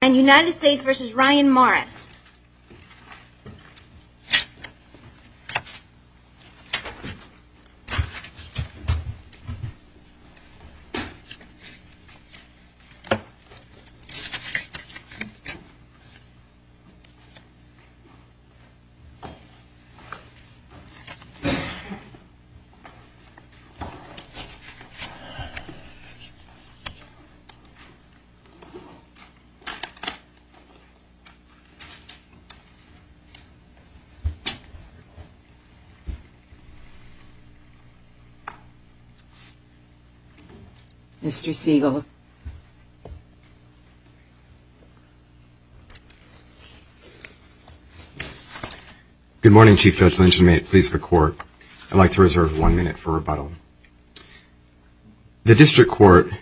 and United States v. Ryan Morris Mr. Siegel. Good morning, Chief Judge Lynch. And may it please the Court, I'd like to reserve one minute for rebuttal. The District Court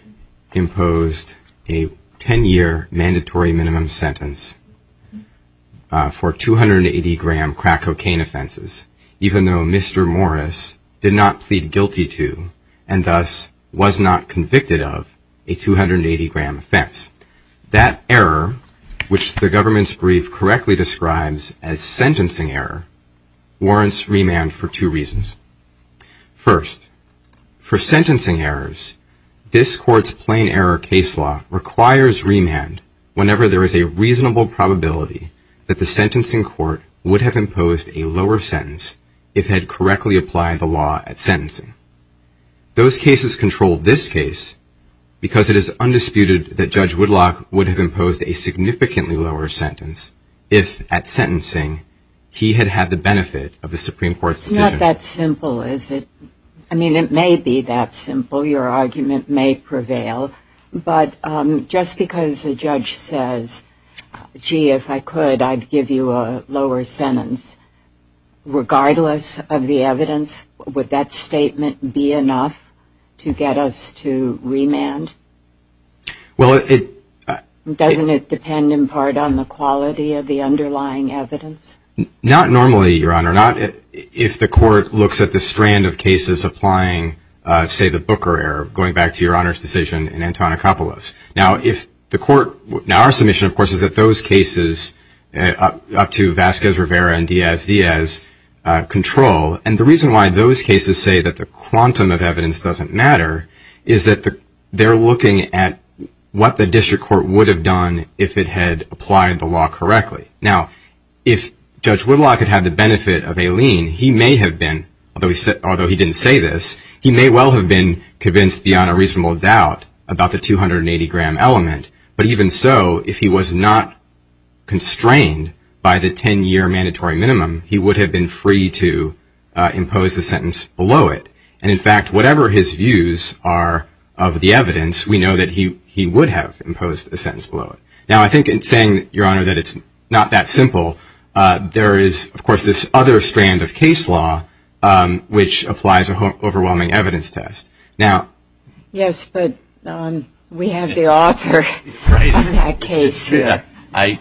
imposed a 10-year mandatory minimum sentence for 280-gram crack cocaine offenses, even though Mr. Morris did not plead guilty to, and thus was not convicted of, a 280-gram offense. That error, which the government's brief correctly describes as sentencing error, warrants remand for two reasons. First, for sentencing errors, this Court's plain error case law requires remand whenever there is a reasonable probability that the sentencing court would have imposed a lower sentence if had correctly applied the law at sentencing. Those cases control this case because it is undisputed that Judge Woodlock would have imposed a significantly lower sentence if, at sentencing, he had had the benefit of the Supreme Court's decision. It's not that simple, is it? I mean, it may be that simple. Your argument may prevail. But just because a judge says, gee, if I could, I'd give you a lower sentence, regardless of the evidence, would that statement be enough to get us to remand? Doesn't it depend in part on the quality of the underlying evidence? Not normally, Your Honor. Not if the Court looks at the strand of cases applying, say, the Booker error, going back to Your Honor's decision in Antonacopulos. Now, if the Court – now, our submission, of course, is that those cases up to Vazquez-Rivera and Diaz-Diaz control. And the reason why those cases say that the quantum of evidence doesn't matter is that they're looking at what the district court would have done if it had applied the law correctly. Now, if Judge Whitlock had had the benefit of a lien, he may have been – although he didn't say this – he may well have been convinced beyond a reasonable doubt about the 280-gram element. But even so, if he was not constrained by the 10-year mandatory minimum, he would have been free to impose a sentence below it. And, in fact, whatever his views are of the evidence, we know that he would have imposed a sentence below it. Now, I think in saying, Your Honor, that it's not that simple, there is, of course, this other strand of case law, which applies a overwhelming evidence test. Now – Yes, but we have the author of that case. I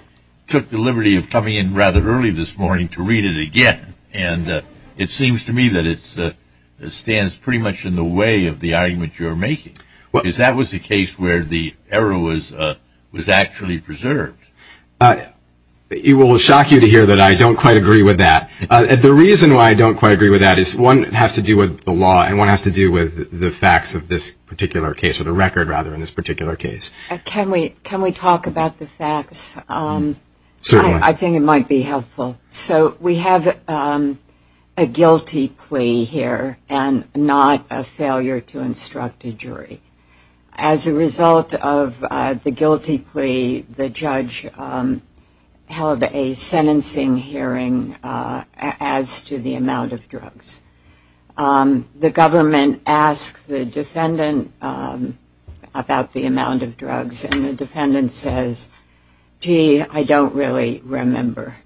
took the liberty of coming in rather early this morning to read it again, and it seems to me that it stands pretty much in the way of the argument you're making. Because that was the case where the error was actually preserved. It will shock you to hear that I don't quite agree with that. The reason why I don't quite agree with that is one has to do with the law and one has to do with the facts of this particular case, or the record, rather, in this particular case. Can we talk about the facts? Certainly. I think it might be helpful. So we have a guilty plea here and not a failure to instruct a jury. As a result of the guilty plea, the judge held a sentencing hearing as to the amount of drugs. The government asked the defendant about the amount of drugs, and the defendant says, gee, I don't really remember.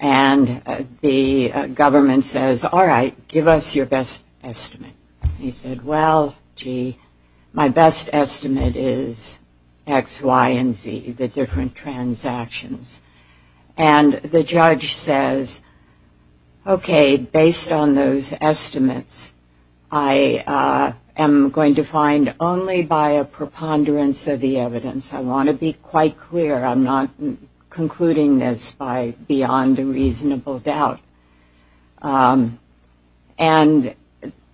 And the government says, all right, give us your best estimate. He said, well, gee, my best estimate is X, Y, and Z, the different transactions. And the judge says, okay, based on those estimates, I am going to find only by a preponderance of the evidence. I want to be quite clear. I'm not concluding this by beyond a reasonable doubt. And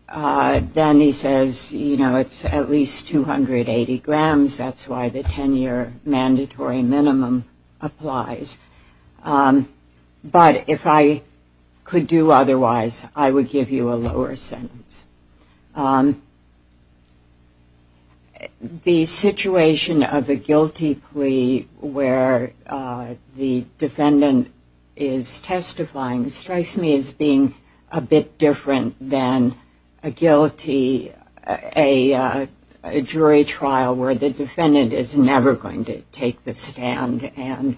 then he says, you know, it's at least 280 grams. That's why the 10-year mandatory minimum applies. But if I could do otherwise, I would give you a lower sentence. The situation of a guilty plea where the defendant is testifying strikes me as being a bit different than a guilty, a jury trial where the defendant is never going to take the stand and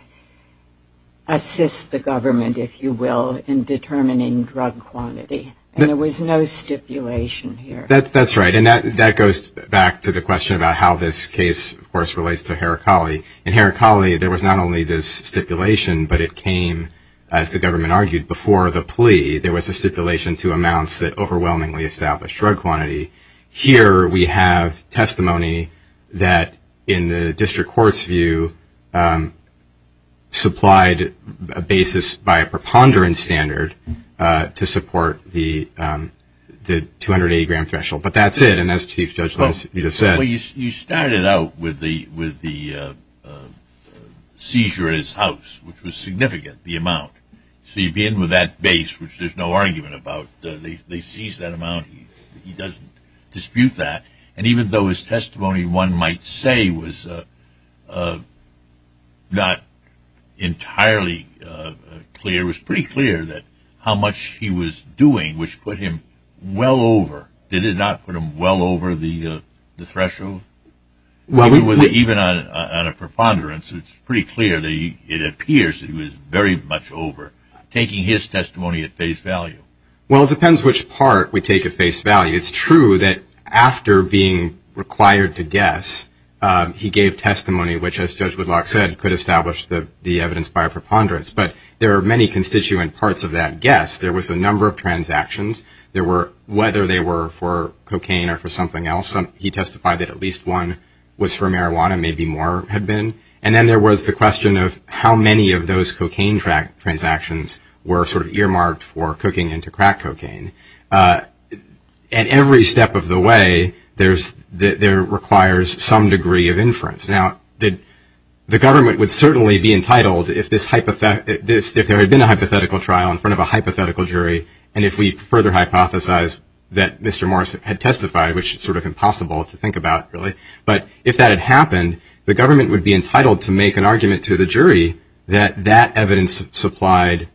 assist the government, if you will, in determining drug quantity. And there was no stipulation here. That's right. And that goes back to the question about how this case, of course, relates to Heracli. In Heracli, there was not only this stipulation, but it came, as the government argued, before the plea. There was a stipulation to amounts that overwhelmingly established drug quantity. Here we have testimony that, in the district court's view, supplied a basis by a preponderance standard to support the 280-gram threshold. But that's it. And as Chief Judge Linsch, you just said. Well, you started out with the seizure at his house, which was significant, the amount. So you begin with that base, which there's no argument about. They seized that amount. He doesn't dispute that. And even though his testimony, one might say, was not entirely clear, it was pretty clear how much he was doing, which put him well over. Did it not put him well over the threshold? Even on a preponderance, it's pretty clear that it appears that he was very much over, taking his testimony at face value. Well, it depends which part we take at face value. It's true that after being required to guess, he gave testimony, which, as Judge Whitlock said, could establish the evidence by a preponderance. But there are many constituent parts of that guess. There was a number of transactions. Whether they were for cocaine or for something else, he testified that at least one was for marijuana, maybe more had been. And then there was the question of how many of those cocaine transactions were sort of earmarked for cooking into crack cocaine. At every step of the way, there requires some degree of inference. Now, the government would certainly be entitled, if there had been a hypothetical trial in front of a hypothetical jury, and if we further hypothesize that Mr. Morris had testified, which is sort of impossible to think about, really. But if that had happened, the government would be entitled to make an argument to the jury that that evidence supplied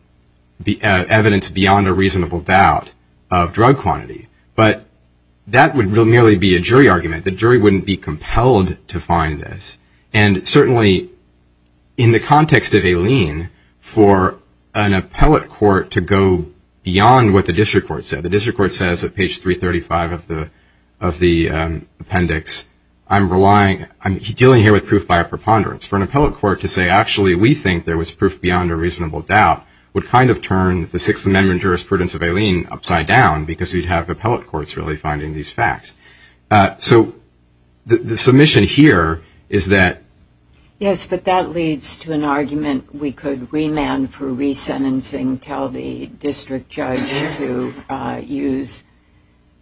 evidence beyond a reasonable doubt of drug quantity. But that would merely be a jury argument. The jury wouldn't be compelled to find this. And certainly, in the context of Aileen, for an appellate court to go beyond what the district court said, the district court says at page 335 of the appendix, I'm dealing here with proof by a preponderance. For an appellate court to say, actually, we think there was proof beyond a reasonable doubt, would kind of turn the Sixth Amendment jurisprudence of Aileen upside down, because you'd have appellate courts really finding these facts. So the submission here is that. Yes, but that leads to an argument. We could remand for resentencing, tell the district judge to use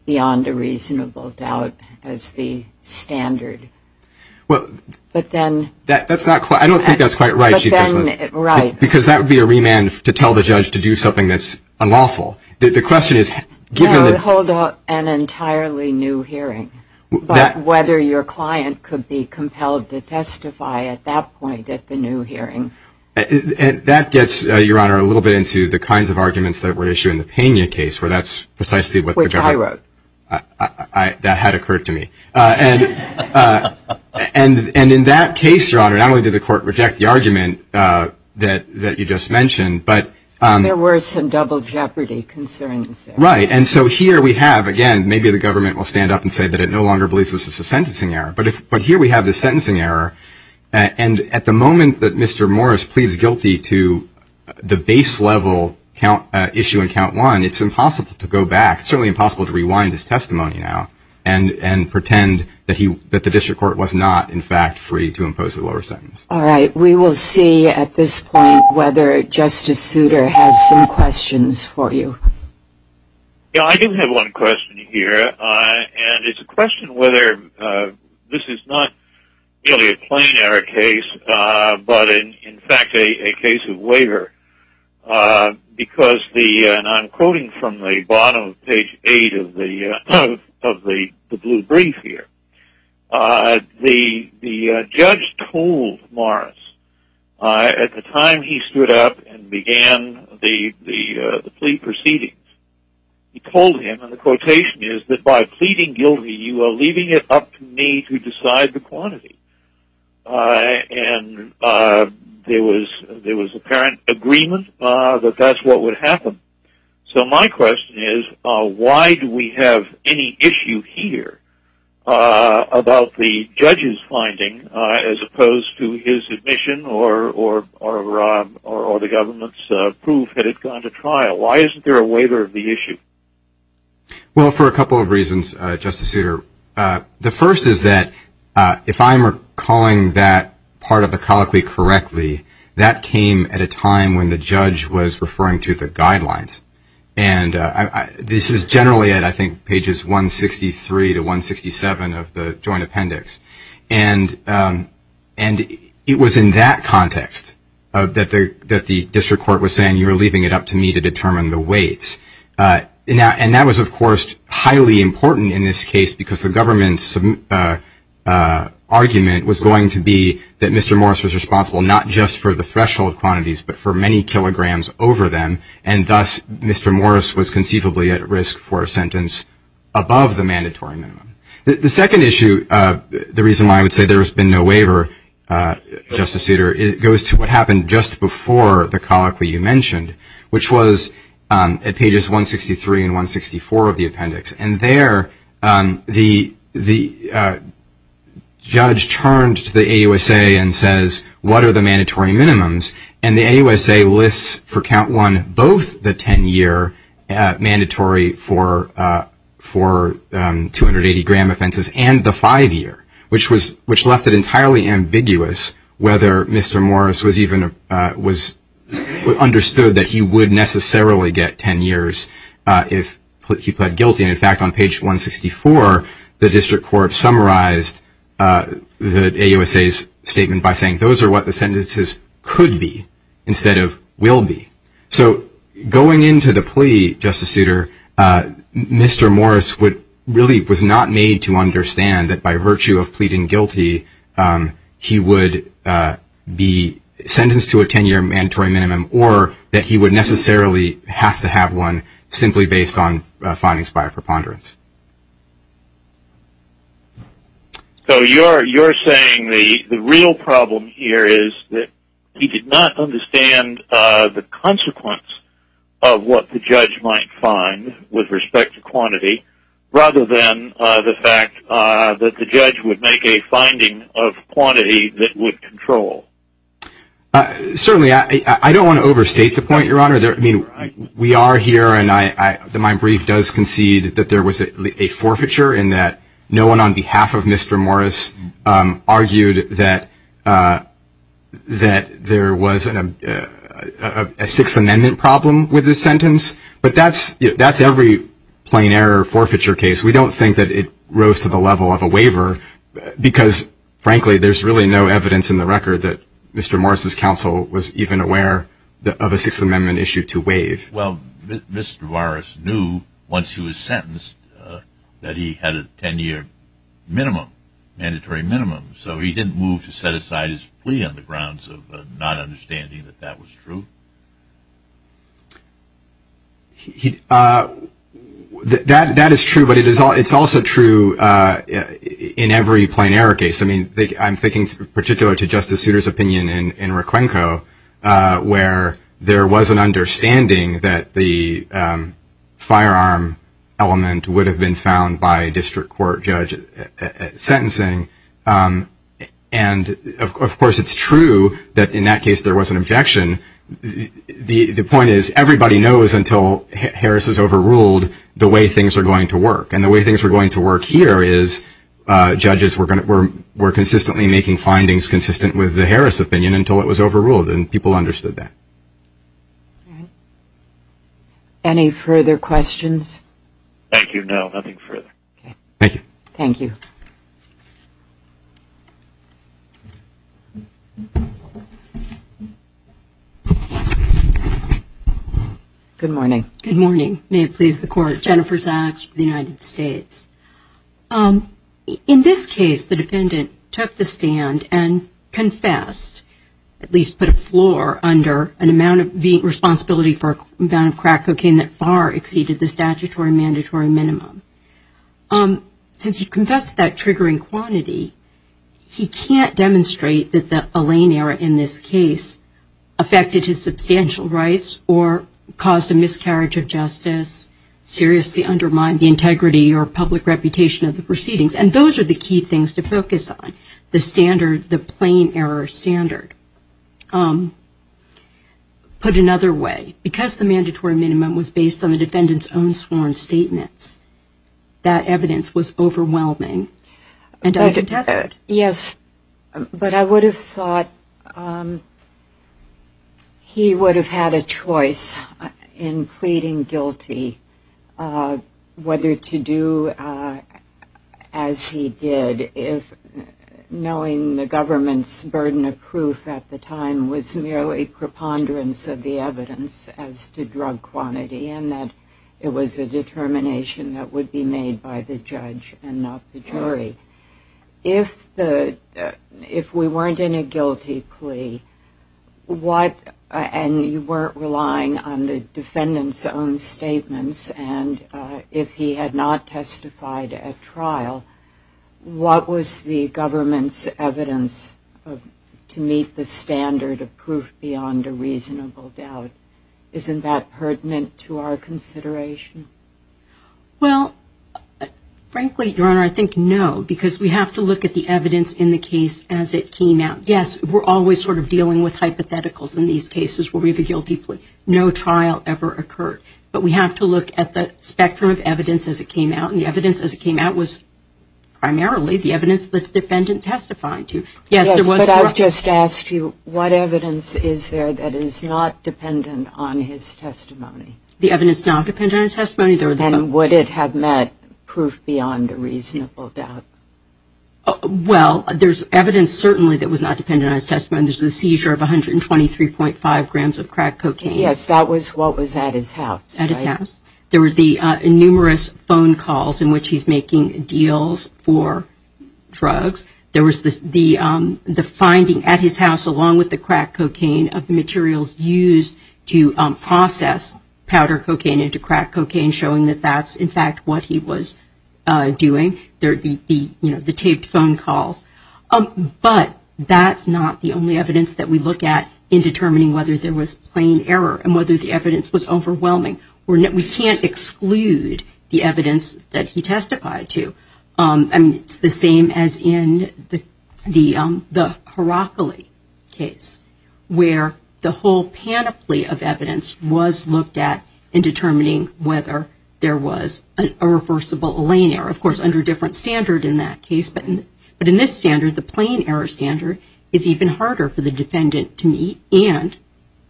beyond a reasonable doubt as the standard. Well. But then. That's not quite. I don't think that's quite right. Right. Because that would be a remand to tell the judge to do something that's unlawful. The question is. No, hold an entirely new hearing. But whether your client could be compelled to testify at that point at the new hearing. And that gets, Your Honor, a little bit into the kinds of arguments that were issued in the Pena case, where that's precisely what the government. Which I wrote. That had occurred to me. And in that case, Your Honor, not only did the court reject the argument that you just mentioned, but. There were some double jeopardy concerns. Right. And so here we have, again, maybe the government will stand up and say that it no longer believes this is a sentencing error. But here we have the sentencing error. And at the moment that Mr. Morris pleads guilty to the base level issue in count one, it's impossible to go back, certainly impossible to rewind his testimony now, and pretend that the district court was not, in fact, free to impose a lower sentence. All right. We will see at this point whether Justice Souter has some questions for you. I do have one question here. And it's a question whether this is not really a plenary case, but, in fact, a case of waiver. Because the, and I'm quoting from the bottom of page eight of the blue brief here, the judge told Morris at the time he stood up and began the plea proceedings, he told him, and the quotation is, that by pleading guilty, you are leaving it up to me to decide the quantity. And there was apparent agreement that that's what would happen. So my question is, why do we have any issue here about the judge's finding, as opposed to his admission or the government's proof that it's gone to trial? Why isn't there a waiver of the issue? Well, for a couple of reasons, Justice Souter. The first is that if I'm calling that part of the colloquy correctly, that came at a time when the judge was referring to the guidelines. And this is generally at, I think, pages 163 to 167 of the joint appendix. And it was in that context that the district court was saying, you are leaving it up to me to determine the weights. And that was, of course, highly important in this case, because the government's argument was going to be that Mr. Morris was responsible not just for the threshold quantities, but for many kilograms over them. And thus, Mr. Morris was conceivably at risk for a sentence above the mandatory minimum. The second issue, the reason why I would say there has been no waiver, Justice Souter, goes to what happened just before the colloquy you mentioned, which was at pages 163 and 164 of the appendix. And there, the judge turned to the AUSA and says, what are the mandatory minimums? And the AUSA lists for count one both the 10-year mandatory for 280-gram offenses and the five-year, which left it entirely ambiguous whether Mr. Morris was understood that he would necessarily get 10 years if he pled guilty. And, in fact, on page 164, the district court summarized the AUSA's statement by saying, those are what the sentences could be instead of will be. So going into the plea, Justice Souter, Mr. Morris really was not made to understand that by virtue of pleading guilty, he would be sentenced to a 10-year mandatory minimum or that he would necessarily have to have one simply based on findings by a preponderance. So you're saying the real problem here is that he did not understand the consequence of what the judge might find with respect to quantity rather than the fact that the judge would make a finding of quantity that would control. Certainly. I don't want to overstate the point, Your Honor. I mean, we are here and my brief does concede that there was a forfeiture in that no one on behalf of Mr. Morris argued that there was a Sixth Amendment problem with this sentence. But that's every plain error forfeiture case. We don't think that it rose to the level of a waiver because, frankly, there's really no evidence in the record that Mr. Morris' counsel was even aware of a Sixth Amendment issue to waive. Well, Mr. Morris knew once he was sentenced that he had a 10-year minimum, mandatory minimum. So he didn't move to set aside his plea on the grounds of not understanding that that was true? That is true, but it's also true in every plain error case. I mean, I'm thinking in particular to Justice Souter's opinion in Requenco where there was an understanding that the firearm element would have been found by a district court judge at sentencing. And, of course, it's true that in that case there was an objection. The point is everybody knows until Harris is overruled the way things are going to work. And the way things are going to work here is judges were consistently making findings consistent with the Harris opinion until it was overruled and people understood that. Any further questions? Thank you. No, nothing further. Thank you. Thank you. Jennifer Sachs. Good morning. Good morning. May it please the Court. Jennifer Sachs of the United States. In this case, the defendant took the stand and confessed, at least put a floor under, the responsibility for an amount of crack cocaine that far exceeded the statutory mandatory minimum. Since he confessed to that triggering quantity, he can't demonstrate that the Allain error in this case affected his substantial rights or caused a miscarriage of justice, seriously undermined the integrity or public reputation of the proceedings. And those are the key things to focus on, the standard, the plain error standard. Put another way, because the mandatory minimum was based on the defendant's own sworn statements, that evidence was overwhelming. Dr. Tethered. Yes, but I would have thought he would have had a choice in pleading guilty whether to do as he did, knowing the government's burden of proof at the time was merely preponderance of the evidence as to drug quantity and that it was a determination that would be made by the judge and not the jury. If we weren't in a guilty plea, and you weren't relying on the defendant's own statements, and if he had not testified at trial, what was the government's evidence to meet the standard of proof beyond a reasonable doubt? Isn't that pertinent to our consideration? Well, frankly, Your Honor, I think no, because we have to look at the evidence in the case as it came out. Yes, we're always sort of dealing with hypotheticals in these cases where we have a guilty plea. No trial ever occurred. But we have to look at the spectrum of evidence as it came out, and the evidence as it came out was primarily the evidence that the defendant testified to. Yes, there was drug quantity. Yes, but I've just asked you, what evidence is there that is not dependent on his testimony? The evidence not dependent on his testimony. And would it have met proof beyond a reasonable doubt? Well, there's evidence certainly that was not dependent on his testimony. There's a seizure of 123.5 grams of crack cocaine. Yes, that was what was at his house, right? At his house. There were the numerous phone calls in which he's making deals for drugs. There was the finding at his house, along with the crack cocaine, of the materials used to process powder cocaine into crack cocaine, showing that that's, in fact, what he was doing, the taped phone calls. But that's not the only evidence that we look at in determining whether there was plain error and whether the evidence was overwhelming. We can't exclude the evidence that he testified to. It's the same as in the Heracli case, where the whole panoply of evidence was looked at in determining whether there was a reversible lane error, of course, under a different standard in that case. But in this standard, the plain error standard is even harder for the defendant to meet, and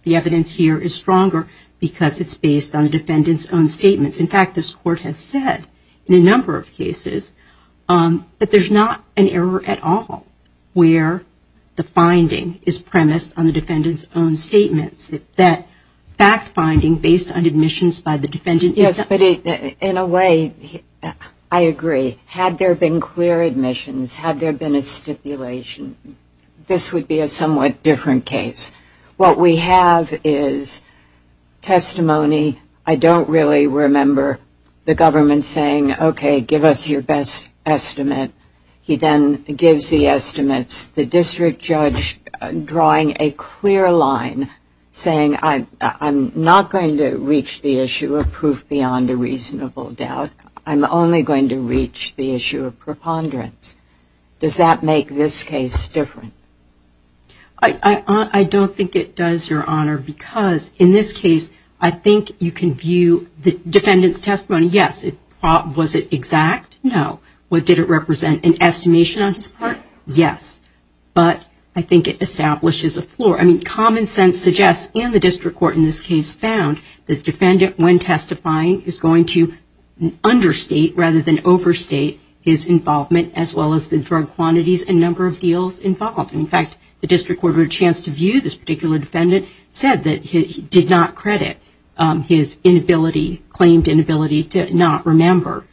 the evidence here is stronger because it's based on the defendant's own statements. In fact, this Court has said in a number of cases that there's not an error at all where the finding is premised on the defendant's own statements, that fact-finding based on admissions by the defendant is not. Yes, but in a way, I agree. Had there been clear admissions, had there been a stipulation, this would be a somewhat different case. What we have is testimony. I don't really remember the government saying, okay, give us your best estimate. He then gives the estimates, the district judge drawing a clear line saying, I'm not going to reach the issue of proof beyond a reasonable doubt. I'm only going to reach the issue of preponderance. Does that make this case different? I don't think it does, Your Honor, because in this case, I think you can view the defendant's testimony. Yes, was it exact? No. Did it represent an estimation on his part? Yes. But I think it establishes a floor. I mean, common sense suggests, and the district court in this case found, the defendant, when testifying, is going to understate rather than overstate his involvement, as well as the drug quantities and number of deals involved. In fact, the district court had a chance to view this particular defendant, said that he did not credit his inability, claimed inability, to not remember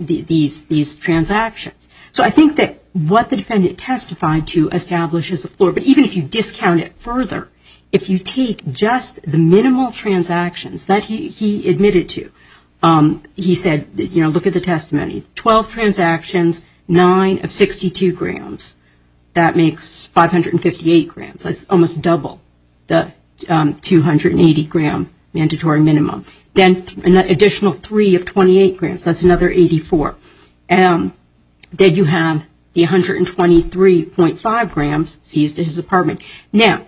these transactions. So I think that what the defendant testified to establishes a floor. But even if you discount it further, if you take just the minimal transactions that he admitted to, he said, you know, look at the testimony, 12 transactions, 9 of 62 grams, that makes 558 grams. That's almost double the 280-gram mandatory minimum. Then an additional 3 of 28 grams, that's another 84. Then you have the 123.5 grams seized at his apartment. Now,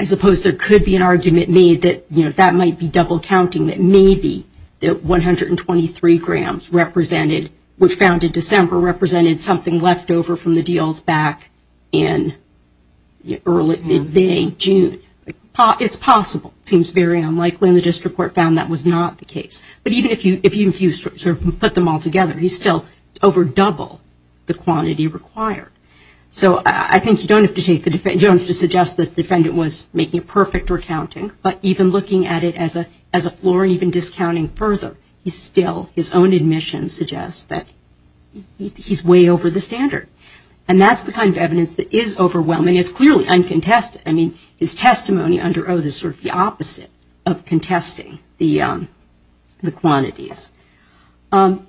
I suppose there could be an argument made that, you know, that might be double counting, that maybe the 123 grams represented, which found in December, represented something left over from the deals back in early, mid-May, June. It's possible. It seems very unlikely, and the district court found that was not the case. But even if you sort of put them all together, he's still over double the quantity required. So I think you don't have to suggest that the defendant was making a perfect recounting, but even looking at it as a floor, even discounting further, he's still, his own admission suggests that he's way over the standard. And that's the kind of evidence that is overwhelming. It's clearly uncontested. I mean, his testimony under oath is sort of the opposite of contesting the quantities. And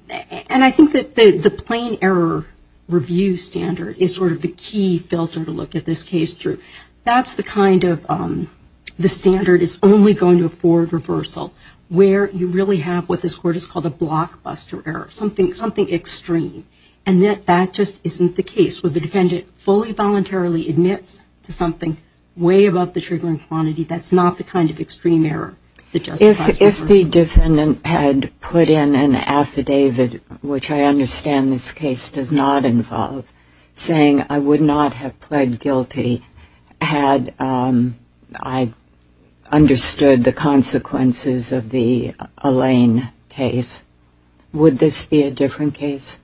I think that the plain error review standard is sort of the key filter to look at this case through. That's the kind of, the standard is only going to afford reversal, where you really have what this court has called a blockbuster error, something extreme. And that just isn't the case. When the defendant fully voluntarily admits to something way above the triggering quantity, that's not the kind of extreme error that justifies reversal. If the defendant had put in an affidavit, which I understand this case does not involve, saying I would not have pled guilty had I understood the consequences of the Elaine case, would this be a different case?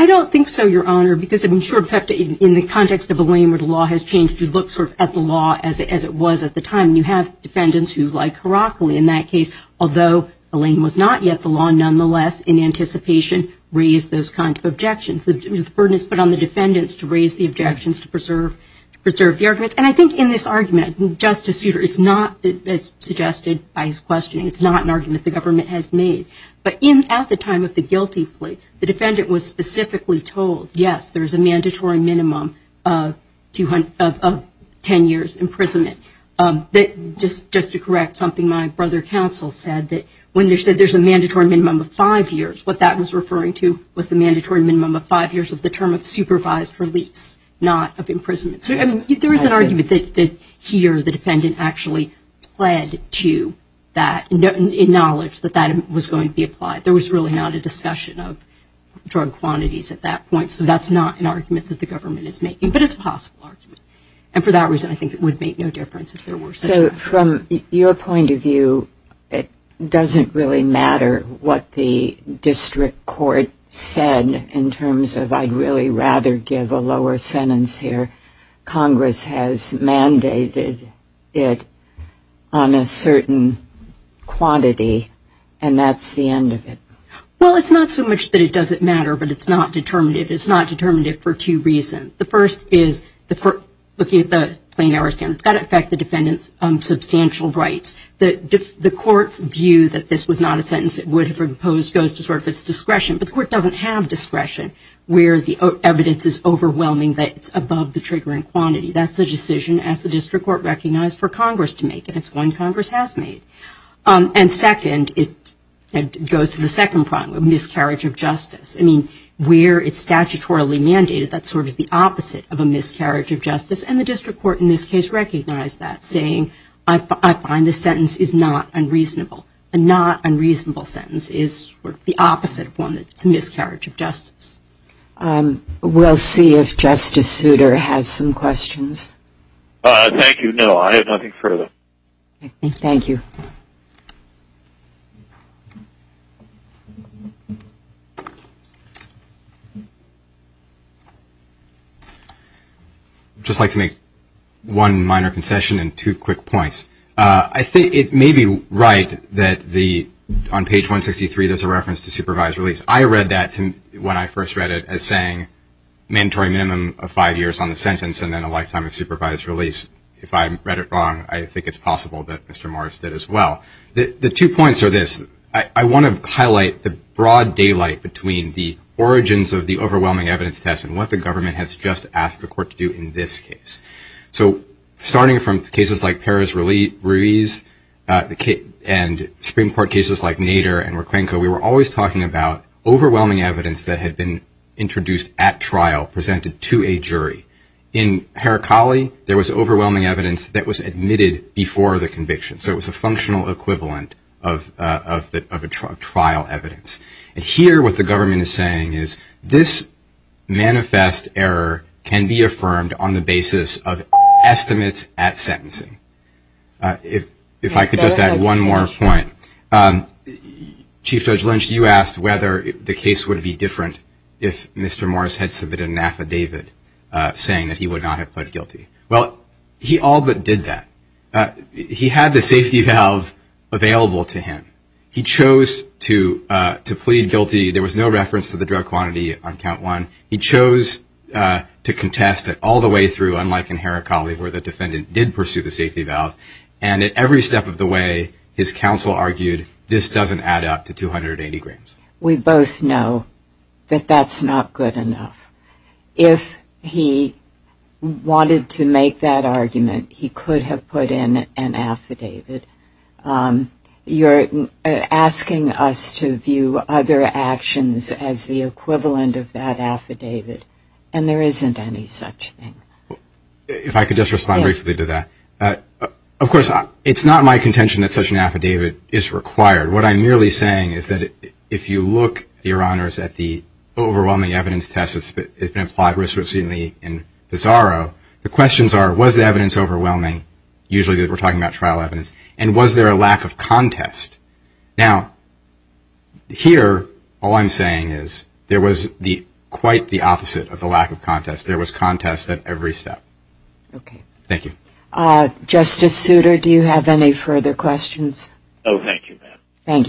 I don't think so, Your Honor, because I'm sure in the context of Elaine where the law has changed, you look sort of at the law as it was at the time. And you have defendants who, like Heracli in that case, although Elaine was not yet the law, nonetheless, in anticipation, raised those kinds of objections. The burden is put on the defendants to raise the objections, to preserve the arguments. And I think in this argument, Justice Souter, it's not, as suggested by his questioning, it's not an argument the government has made. But at the time of the guilty plea, the defendant was specifically told, yes, there is a mandatory minimum of 10 years' imprisonment. Just to correct something my brother counsel said, that when they said there's a mandatory minimum of five years, what that was referring to was the mandatory minimum of five years of the term of supervised release, not of imprisonment. There is an argument that here the defendant actually pled to that, in knowledge that that was going to be applied. There was really not a discussion of drug quantities at that point. So that's not an argument that the government is making. But it's a possible argument. And for that reason, I think it would make no difference if there were such an argument. So from your point of view, it doesn't really matter what the district court said in terms of, I'd really rather give a lower sentence here. Congress has mandated it on a certain quantity. And that's the end of it. Well, it's not so much that it doesn't matter, but it's not determinative. It's not determinative for two reasons. The first is, looking at the plain errors, it's got to affect the defendant's substantial rights. The court's view that this was not a sentence it would have imposed goes to sort of its discretion. But the court doesn't have discretion where the evidence is overwhelming that it's above the triggering quantity. That's a decision, as the district court recognized, for Congress to make. And it's one Congress has made. And second, it goes to the second problem of miscarriage of justice. I mean, where it's statutorily mandated, that's sort of the opposite of a miscarriage of justice. And the district court in this case recognized that, saying, I find this sentence is not unreasonable. A not unreasonable sentence is the opposite of one that's a miscarriage of justice. We'll see if Justice Souter has some questions. Thank you. No, I have nothing further. Thank you. I'd just like to make one minor concession and two quick points. I think it may be right that on page 163 there's a reference to supervised release. I read that when I first read it as saying mandatory minimum of five years on the sentence and then a lifetime of supervised release. If I read it wrong, I think it's possible that Mr. Morris did as well. The two points are this. I want to highlight the broad daylight between the origins of the overwhelming evidence test and what the government has just asked the court to do in this case. So starting from cases like Perez-Ruiz and Supreme Court cases like Nader and Roquenco, we were always talking about overwhelming evidence that had been introduced at trial, presented to a jury. In Heracli, there was overwhelming evidence that was admitted before the conviction. So it was a functional equivalent of trial evidence. And here what the government is saying is this manifest error can be affirmed on the basis of estimates at sentencing. If I could just add one more point. Chief Judge Lynch, you asked whether the case would be different if Mr. Morris had submitted an affidavit saying that he would not have pled guilty. Well, he all but did that. He had the safety valve available to him. He chose to plead guilty. There was no reference to the drug quantity on count one. He chose to contest it all the way through, unlike in Heracli, where the defendant did pursue the safety valve. And at every step of the way, his counsel argued this doesn't add up to 280 grams. We both know that that's not good enough. If he wanted to make that argument, he could have put in an affidavit. You're asking us to view other actions as the equivalent of that affidavit, and there isn't any such thing. If I could just respond briefly to that. Of course, it's not my contention that such an affidavit is required. What I'm merely saying is that if you look, Your Honors, at the overwhelming evidence test that's been applied recently in Pizarro, the questions are was the evidence overwhelming? Usually we're talking about trial evidence. And was there a lack of contest? Now, here, all I'm saying is there was quite the opposite of the lack of contest. There was contest at every step. Thank you. Justice Souter, do you have any further questions? Oh, thank you, Pat. Thank you.